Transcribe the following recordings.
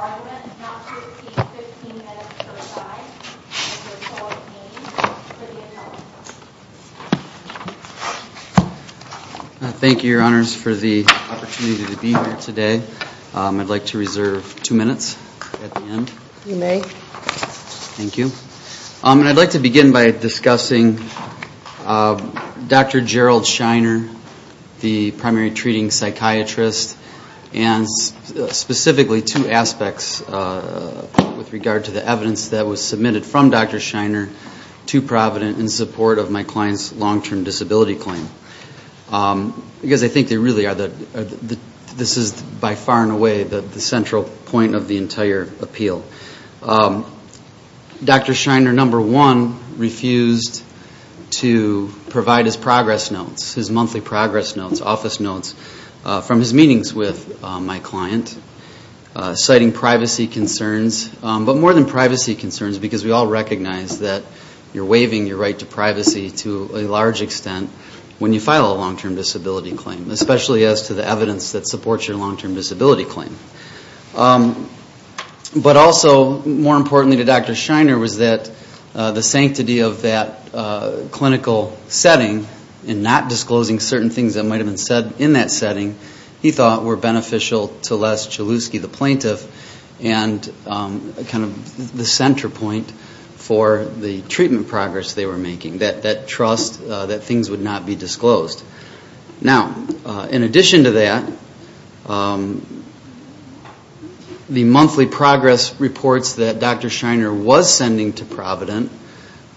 argument not to repeat 15 minutes per side as their total is named for the interview. Thank you, your honors, for the opportunity to be here today. I'd like to reserve two minutes at the end. You may. Thank you. I'd like to begin by discussing Dr. Gerald Shiner, the primary treating psychiatrist, and specifically two aspects with regard to the evidence that was submitted from Dr. Shiner to Provident in support of my client's long-term disability claim. Because I think they really are, this is by far and away the central point of the entire appeal. Dr. Shiner, number one, refused to provide his progress notes, his monthly progress notes, office notes, from his meetings with my client, citing privacy concerns, but more than privacy concerns, because we all recognize that you're waiving your right to privacy to a large extent when you file a long-term disability claim, especially as to the evidence that supports your long-term disability claim. But also, more importantly to Dr. Shiner was that the sanctity of that clinical setting and not disclosing certain things that might have been said in that setting, he thought were beneficial to Les Gilewski, the plaintiff, and kind of the center point for the treatment progress they were making, that trust that things would not be disclosed. Now, in addition to that, the monthly progress reports that Dr. Shiner was sending to Provident,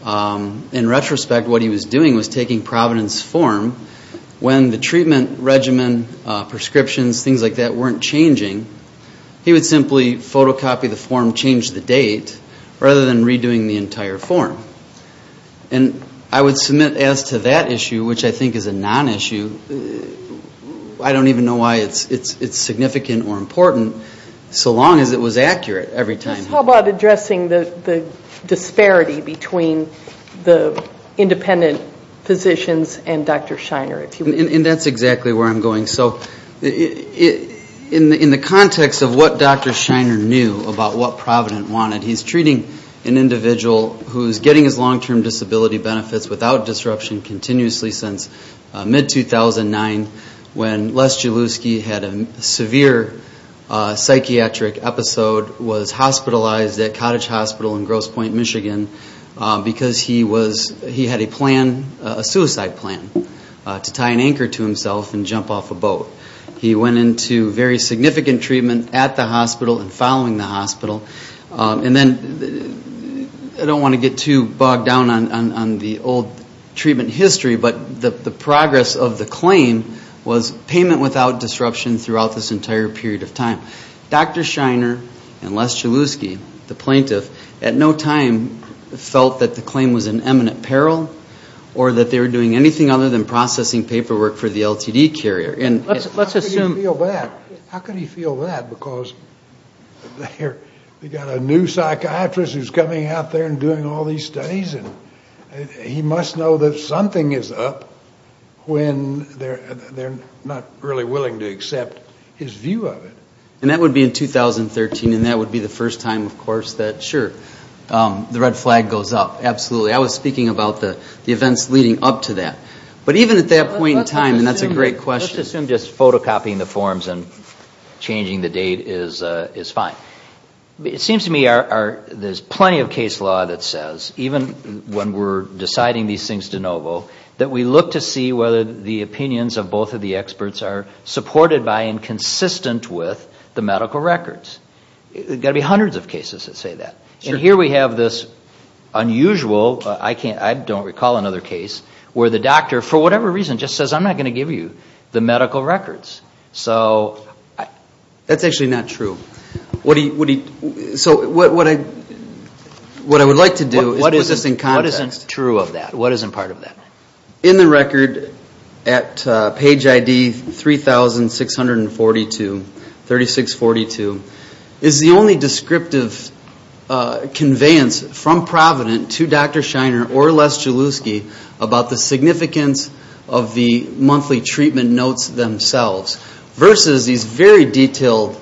in retrospect what he was doing was taking Provident's form. When the treatment regimen, prescriptions, things like that weren't changing, he would simply photocopy the form, change the date, rather than redoing the entire form. And I would submit as to that issue, which I think is a non-issue, I don't even know why it's significant or important, so long as it was accurate every time. How about addressing the disparity between the independent physicians and Dr. Shiner? And that's exactly where I'm going. So in the context of what Dr. Shiner knew about what Provident wanted, he's treating an individual who's getting his long-term disability benefits without disruption continuously since mid-2009 when Les Gilewski had a severe psychiatric episode, was hospitalized at Cottage Hospital in Grosse Pointe, Michigan, because he had a plan, a suicide plan, to tie an anchor to himself and jump off a boat. He went into very significant treatment at the hospital and following the hospital. And then I don't want to get too bogged down on the old treatment history, but the progress of the claim was payment without disruption throughout this entire period of time. Dr. Shiner and Les Gilewski, the plaintiff, at no time felt that the claim was in eminent peril or that they were doing anything other than processing paperwork for the LTD carrier. And let's assume... How could he feel that? Because they've got a new psychiatrist who's coming out there and doing all these studies and he must know that something is up when they're not really willing to accept his view of it. And that would be in 2013, and that would be the first time, of course, that, sure, the red flag goes up. Absolutely. I was speaking about the events leading up to that. But even at that point in time, and that's a great question... Let's assume just photocopying the forms and changing the date is fine. It seems to me there's plenty of case law that says, even when we're deciding these things de novo, that we look to see whether the opinions of both of the experts are supported by and consistent with the medical records. There's got to be hundreds of cases that say that. And here we have this unusual, I don't recall another case, where the doctor, for whatever reason, just says, I'm not going to give you the medical records. So that's actually not true. So what I would like to do is put this in context. What isn't true of that? What isn't part of that? In the record at page ID 3642, is the only descriptive conveyance from Provident to Dr. Shiner or Les Jalouski about the significance of the monthly treatment notes themselves versus these very detailed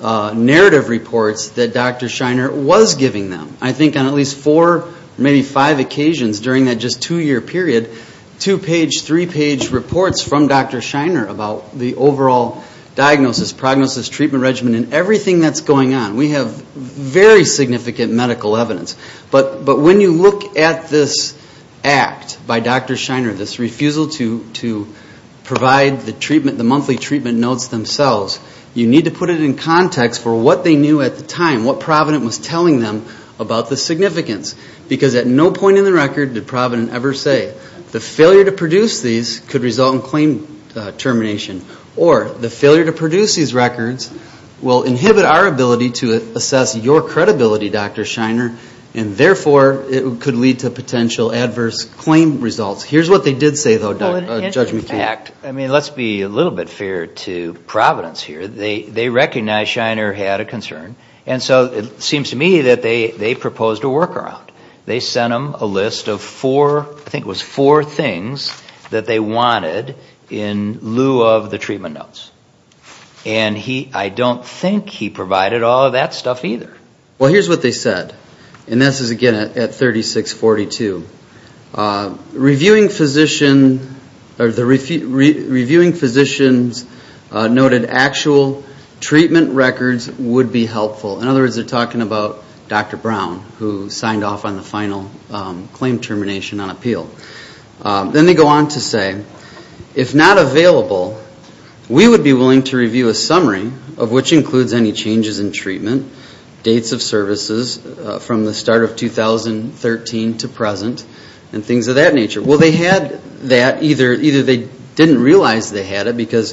narrative reports that Dr. Shiner was giving them. I think on at least four, maybe five occasions during that just two-year period, two-page, three-page reports from Dr. Shiner about the overall diagnosis, prognosis, treatment regimen, and everything that's going on. We have very significant medical evidence. But when you look at this act by Dr. Shiner, this refusal to provide the treatment, the monthly treatment notes themselves, you need to put it in context for what they knew at the time, what Provident was telling them about the significance. Because at no point in the record did Provident ever say, the failure to produce these could result in claim termination. Or the failure to produce these records will inhibit our ability to assess your credibility, Dr. Shiner, and therefore it could lead to potential adverse claim results. Here's what they did say, though, Judge McKeon. I mean, let's be a little bit fair to Providence here. They recognized Shiner had a concern. And so it seems to me that they proposed a workaround. They sent him a list of four, I think it was four things, that they wanted in lieu of the treatment notes. And I don't think he provided all of that stuff either. Well, here's what they said. And this is, again, at 3642. Reviewing physicians noted actual treatment records would be helpful. In other words, they're talking about Dr. Brown, who signed off on the final claim termination on appeal. Then they go on to say, if not available, we would be willing to review a summary, of which includes any changes in treatment, dates of services from the start of 2013 to present, and things of that nature. Well, they had that, either they didn't realize they had it, because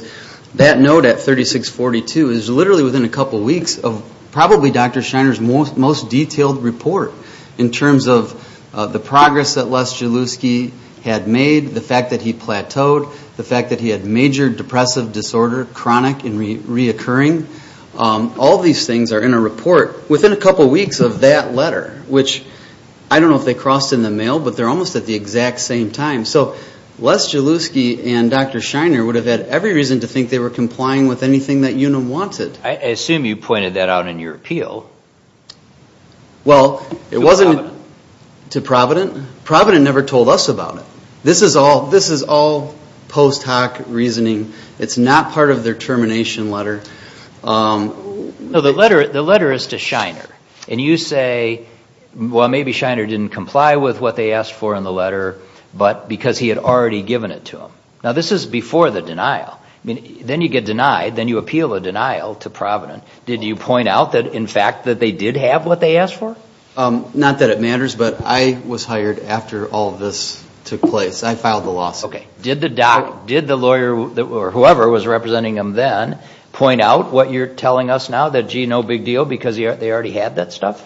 that note at 3642 is literally within a couple weeks of probably Dr. Shiner's most detailed report in terms of the progress that Les Jalouski had made, the fact that he plateaued, the fact that he had major depressive disorder, chronic and reoccurring. All these things are in a report within a couple weeks of that letter, which I don't know if they crossed in the mail, but they're almost at the exact same time. So Les Jalouski and Dr. Shiner would have had every reason to think they were complying with anything that UNAM wanted. I assume you pointed that out in your appeal. Well, it wasn't to Provident. Provident never told us about it. This is all post hoc reasoning. It's not part of their termination letter. No, the letter is to Shiner. And you say, well, maybe Shiner didn't comply with what they asked for in the letter, but because he had already given it to them. Now, this is before the denial. Then you get denied. Then you appeal a denial to Provident. Did you point out, in fact, that they did have what they asked for? Not that it matters, but I was hired after all of this took place. I filed the lawsuit. Okay. Did the lawyer or whoever was representing them then point out what you're telling us now, that, gee, no big deal, because they already had that stuff?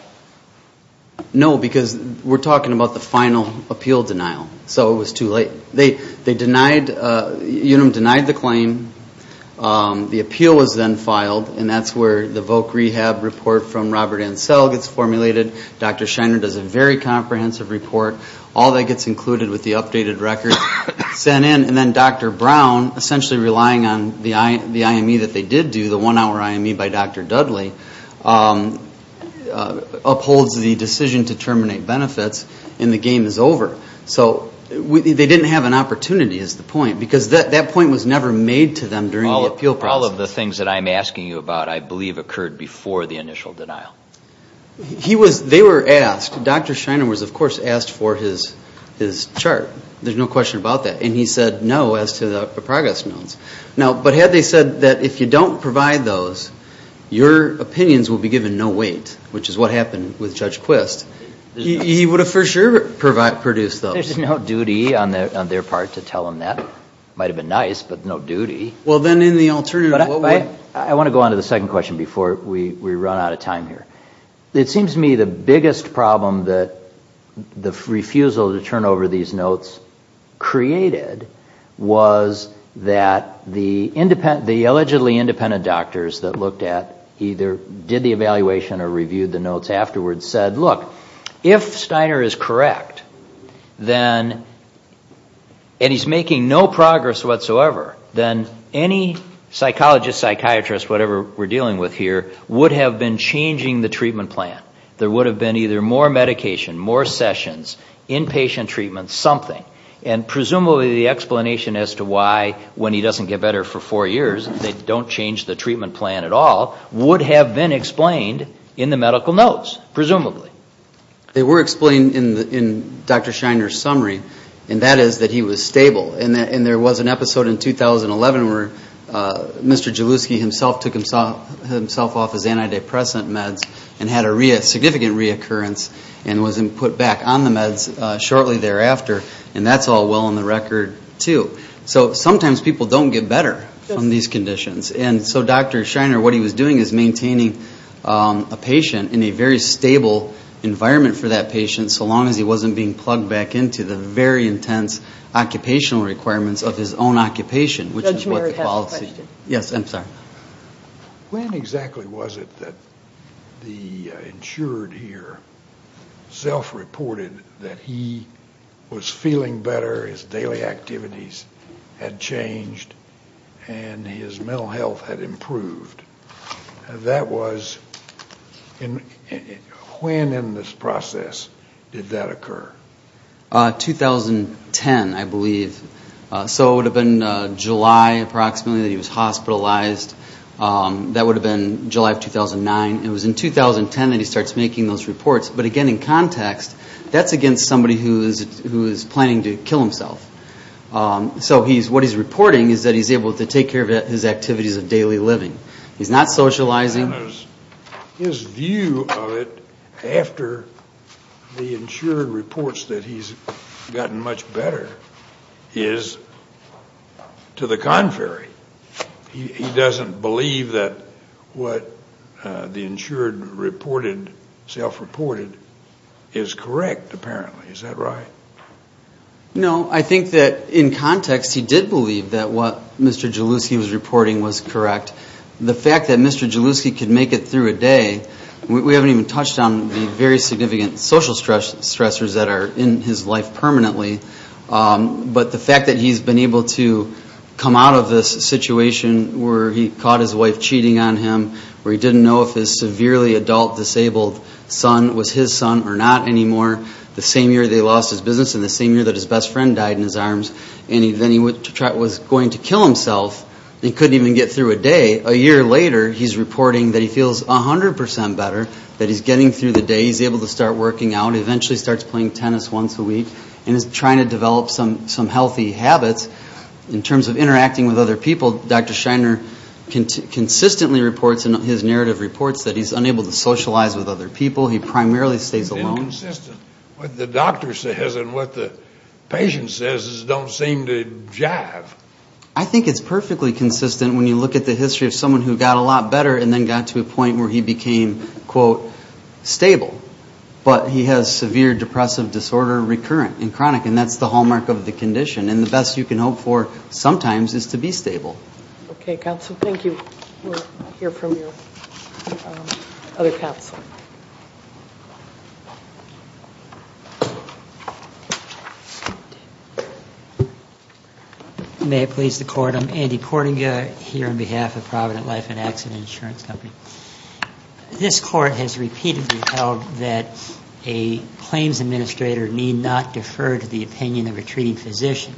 No, because we're talking about the final appeal denial. So it was too late. UNAM denied the claim. The appeal was then filed, and that's where the voc rehab report from Robert Ansell gets formulated. Dr. Shiner does a very comprehensive report. All that gets included with the updated record sent in. And then Dr. Brown, essentially relying on the IME that they did do, the one-hour IME by Dr. Dudley, upholds the decision to terminate benefits, and the game is over. So they didn't have an opportunity is the point, because that point was never made to them during the appeal process. All of the things that I'm asking you about I believe occurred before the initial denial. They were asked. Dr. Shiner was, of course, asked for his chart. There's no question about that. And he said no as to the progress notes. But had they said that if you don't provide those, your opinions will be given no weight, which is what happened with Judge Quist, he would have for sure produced those. There's no duty on their part to tell them that. It might have been nice, but no duty. Well, then in the alternative, what would? I want to go on to the second question before we run out of time here. It seems to me the biggest problem that the refusal to turn over these notes created was that the illegitimately independent doctors that looked at either did the evaluation or reviewed the notes afterwards said, look, if Steiner is correct, and he's making no progress whatsoever, then any psychologist, psychiatrist, whatever we're dealing with here, would have been changing the treatment plan. There would have been either more medication, more sessions, inpatient treatment, something. And presumably the explanation as to why when he doesn't get better for four years they don't change the treatment plan at all would have been explained in the medical notes, presumably. They were explained in Dr. Shiner's summary, and that is that he was stable. And there was an episode in 2011 where Mr. Jalewski himself took himself off his antidepressant meds and had a significant reoccurrence and was put back on the meds shortly thereafter, and that's all well on the record, too. So sometimes people don't get better from these conditions. And so Dr. Shiner, what he was doing is maintaining a patient in a very stable environment for that patient so long as he wasn't being plugged back into the very intense occupational requirements of his own occupation, which is what the policy... Judge Mary has a question. Yes, I'm sorry. When exactly was it that the insured here self-reported that he was feeling better, his daily activities had changed, and his mental health had improved? That was... When in this process did that occur? 2010, I believe. So it would have been July, approximately, that he was hospitalized. That would have been July of 2009. It was in 2010 that he starts making those reports. But again, in context, that's against somebody who is planning to kill himself. So what he's reporting is that he's able to take care of his activities of daily living. He's not socializing. His view of it after the insured reports that he's gotten much better is to the contrary. He doesn't believe that what the insured reported, self-reported, is correct, apparently. Is that right? No, I think that in context he did believe that what Mr. Jalewski was reporting was correct. The fact that Mr. Jalewski could make it through a day, we haven't even touched on the very significant social stressors that are in his life permanently, but the fact that he's been able to come out of this situation where he caught his wife cheating on him, where he didn't know if his severely adult disabled son was his son or not anymore, the same year they lost his business and the same year that his best friend died in his arms, and then he was going to kill himself and couldn't even get through a day. A year later, he's reporting that he feels 100% better, that he's getting through the day. He's able to start working out. He eventually starts playing tennis once a week and is trying to develop some healthy habits. In terms of interacting with other people, Dr. Shiner consistently reports in his narrative reports that he's unable to socialize with other people. He primarily stays alone. It's inconsistent. What the doctor says and what the patient says don't seem to jive. I think it's perfectly consistent when you look at the history of someone who got a lot better and then got to a point where he became, quote, stable, but he has severe depressive disorder recurrent and chronic, and that's the hallmark of the condition, and the best you can hope for sometimes is to be stable. Okay, counsel. Thank you. We'll hear from your other counsel. May it please the Court. I'm Andy Kordinga here on behalf of Provident Life and Accident Insurance Company. This Court has repeatedly held that a claims administrator need not defer to the opinion of a treating physician.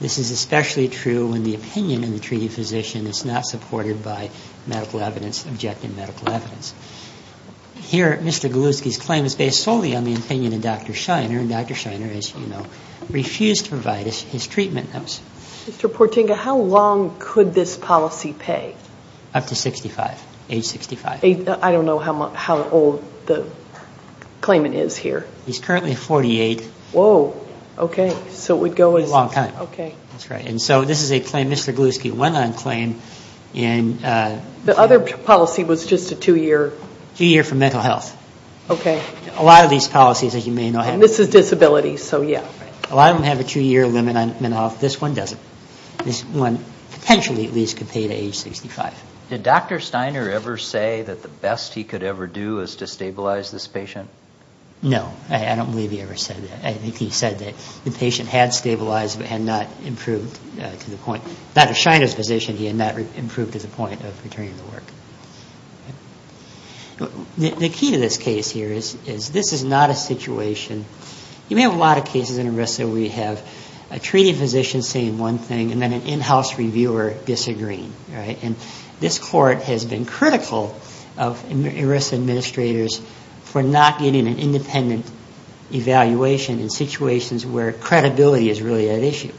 This is especially true when the opinion of the treating physician is not supported by medical evidence, objective medical evidence. Here, Mr. Galewski's claim is based solely on the opinion of Dr. Shiner, and Dr. Shiner, as you know, refused to provide his treatment notes. Mr. Kordinga, how long could this policy pay? Up to 65, age 65. I don't know how old the claimant is here. He's currently 48. Whoa. Okay. So it would go as long time. Okay. That's right. And so this is a claim Mr. Galewski went on claim. The other policy was just a two-year. Two-year for mental health. Okay. A lot of these policies, as you may know. And this is disability, so yeah. A lot of them have a two-year limit on mental health. This one doesn't. This one potentially at least could pay to age 65. Did Dr. Shiner ever say that the best he could ever do is to stabilize this patient? No. I don't believe he ever said that. I think he said that the patient had stabilized but had not improved to the point. Dr. Shiner's position, he had not improved to the point of returning to work. The key to this case here is this is not a situation. You may have a lot of cases in ERISA where you have a treating physician saying one thing and then an in-house reviewer disagreeing. And this court has been critical of ERISA administrators for not getting an independent evaluation in situations where credibility is really at issue.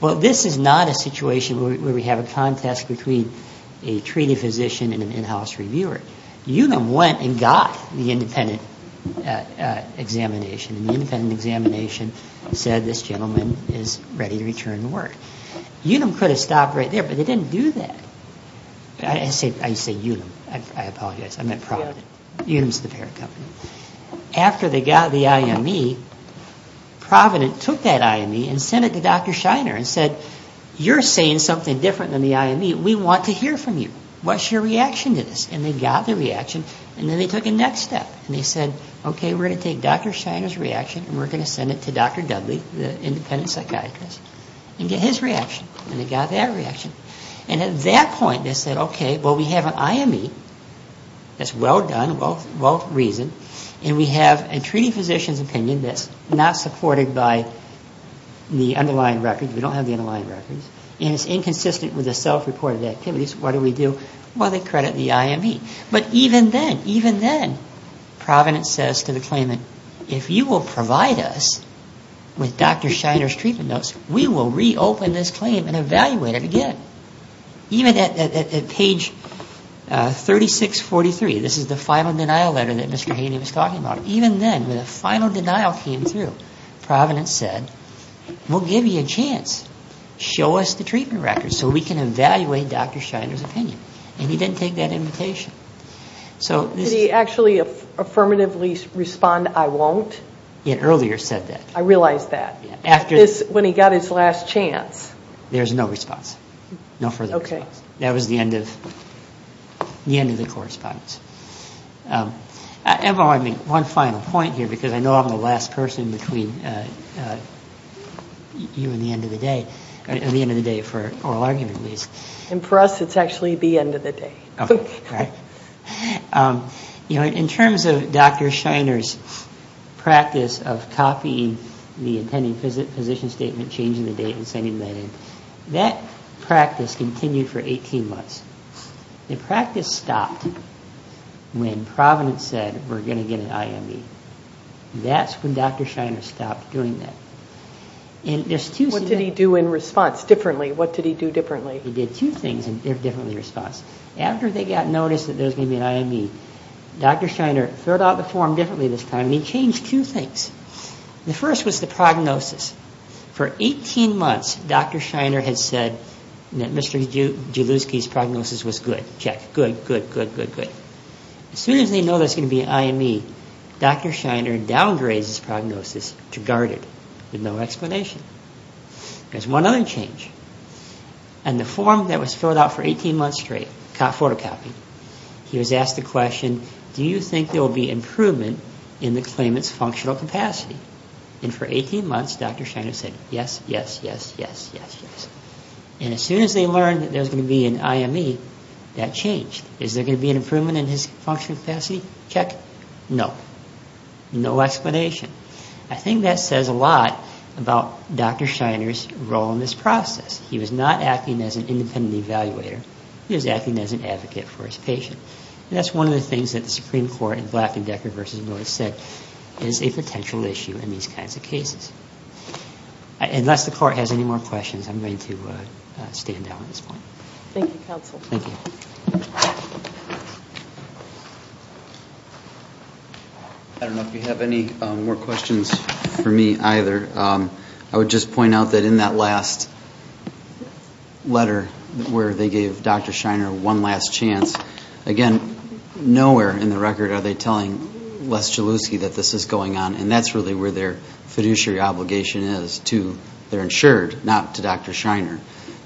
Well, this is not a situation where we have a contest between a treating physician and an in-house reviewer. Unum went and got the independent examination, and the independent examination said this gentleman is ready to return to work. Unum could have stopped right there, but they didn't do that. I say Unum, I apologize. I meant Provident. Unum is the parent company. After they got the IME, Provident took that IME and sent it to Dr. Shiner and said, you're saying something different than the IME. We want to hear from you. What's your reaction to this? And they got the reaction, and then they took a next step. And they said, okay, we're going to take Dr. Shiner's reaction and we're going to send it to Dr. Dudley, the independent psychiatrist, and get his reaction. And they got that reaction. And at that point they said, okay, well, we have an IME that's well done, well-reasoned, and we have a treating physician's opinion that's not supported by the underlying records. We don't have the underlying records. And it's inconsistent with the self-reported activities. What do we do? Well, they credit the IME. But even then, Provident says to the claimant, if you will provide us with Dr. Shiner's treatment notes, we will reopen this claim and evaluate it again. Even at page 3643, this is the final denial letter that Mr. Haney was talking about, even then, when the final denial came through, Provident said, we'll give you a chance. Show us the treatment records so we can evaluate Dr. Shiner's opinion. And he didn't take that invitation. Did he actually affirmatively respond, I won't? He had earlier said that. I realized that. When he got his last chance. There's no response. No further response. Okay. That was the end of the correspondence. One final point here, because I know I'm the last person between you and the end of the day, or the end of the day for oral argument, at least. And for us, it's actually the end of the day. Okay. All right. In terms of Dr. Shiner's practice of copying the attending physician statement, changing the date, and sending that in, that practice continued for 18 months. The practice stopped when Provident said, we're going to get an IME. That's when Dr. Shiner stopped doing that. What did he do in response differently? What did he do differently? He did two things differently in response. After they got notice that there was going to be an IME, Dr. Shiner threw out the form differently this time. He changed two things. The first was the prognosis. For 18 months, Dr. Shiner had said that Mr. Jalewski's prognosis was good. Check. Good, good, good, good, good. As soon as they know there's going to be an IME, Dr. Shiner downgrades his prognosis to guarded with no explanation. There's one other change. The form that was filled out for 18 months straight, photocopied, he was asked the question, do you think there will be improvement in the claimant's functional capacity? For 18 months, Dr. Shiner said, yes, yes, yes, yes, yes, yes. As soon as they learned that there was going to be an IME, that changed. Is there going to be an improvement in his functional capacity? Check. No. No explanation. I think that says a lot about Dr. Shiner's role in this process. He was not acting as an independent evaluator. He was acting as an advocate for his patient. And that's one of the things that the Supreme Court in Black and Decker v. Lewis said is a potential issue in these kinds of cases. Unless the Court has any more questions, I'm going to stand down at this point. Thank you, counsel. Thank you. Thank you. I don't know if you have any more questions for me either. I would just point out that in that last letter where they gave Dr. Shiner one last chance, again, nowhere in the record are they telling Les Jalouski that this is going on, and that's really where their fiduciary obligation is to their insured, not to Dr. Shiner,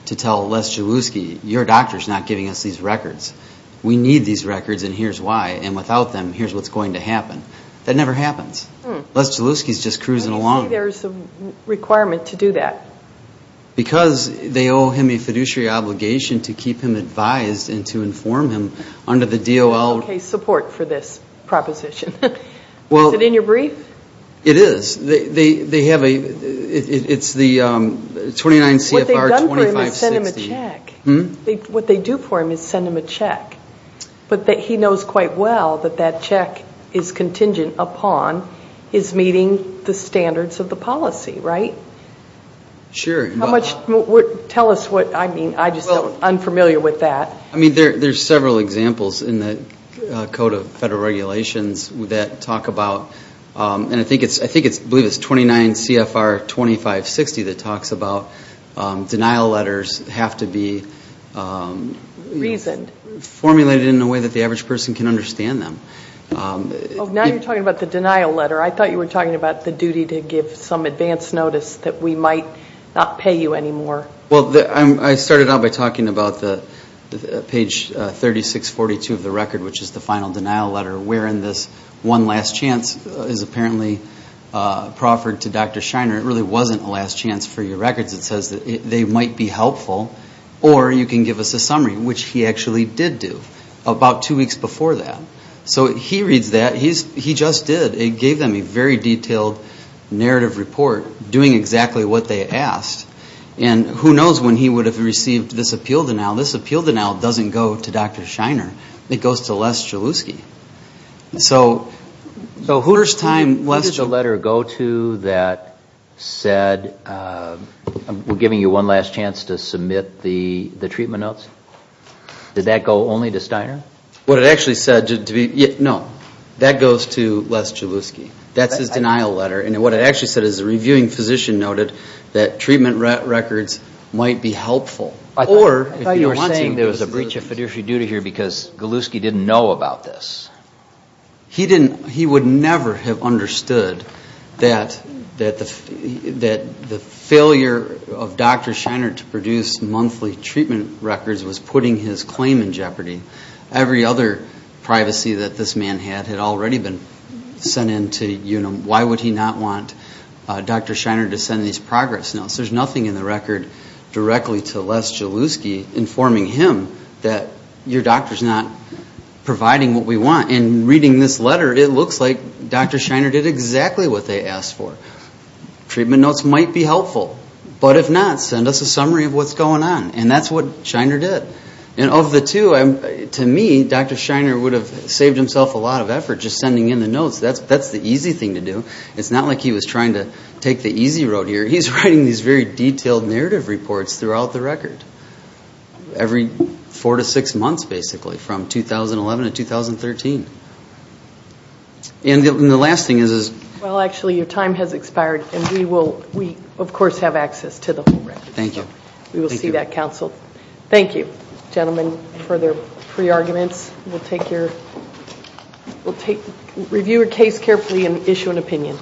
to tell Les Jalouski, your doctor is not giving us these records. We need these records, and here's why. And without them, here's what's going to happen. That never happens. Les Jalouski is just cruising along. Why do you say there's a requirement to do that? Because they owe him a fiduciary obligation to keep him advised and to inform him under the DOL. There's no case support for this proposition. Is it in your brief? It is. It's the 29 CFR 2560. What they do for him is send him a check, but he knows quite well that that check is contingent upon his meeting the standards of the policy, right? Sure. Tell us what I mean. I'm just unfamiliar with that. There's several examples in the Code of Federal Regulations that talk about, and I believe it's 29 CFR 2560 that talks about, denial letters have to be formulated in a way that the average person can understand them. Now you're talking about the denial letter. I thought you were talking about the duty to give some advance notice that we might not pay you anymore. Well, I started out by talking about page 3642 of the record, which is the final denial letter, wherein this one last chance is apparently proffered to Dr. Shiner. It really wasn't a last chance for your records. It says that they might be helpful, or you can give us a summary, which he actually did do about two weeks before that. So he reads that. He just did. It gave them a very detailed narrative report doing exactly what they asked. And who knows when he would have received this appeal denial. This appeal denial doesn't go to Dr. Shiner. It goes to Les Chaluski. So who did the letter go to that said, we're giving you one last chance to submit the treatment notes? Did that go only to Shiner? No, that goes to Les Chaluski. That's his denial letter. And what it actually said is, the reviewing physician noted that treatment records might be helpful. I thought you were saying there was a breach of fiduciary duty here because Chaluski didn't know about this. He would never have understood that the failure of Dr. Shiner to produce monthly treatment records was putting his claim in jeopardy. Every other privacy that this man had had already been sent in to UNM. Why would he not want Dr. Shiner to send these progress notes? There's nothing in the record directly to Les Chaluski informing him that your doctor's not providing what we want. And reading this letter, it looks like Dr. Shiner did exactly what they asked for. Treatment notes might be helpful. But if not, send us a summary of what's going on. And that's what Shiner did. And of the two, to me, Dr. Shiner would have saved himself a lot of effort just sending in the notes. That's the easy thing to do. It's not like he was trying to take the easy road here. He's writing these very detailed narrative reports throughout the record. Every four to six months, basically, from 2011 to 2013. And the last thing is... Well, actually, your time has expired. And we, of course, have access to the whole record. Thank you. We will see that, counsel. Thank you, gentlemen, for their pre-arguments. We'll review your case carefully and issue an opinion.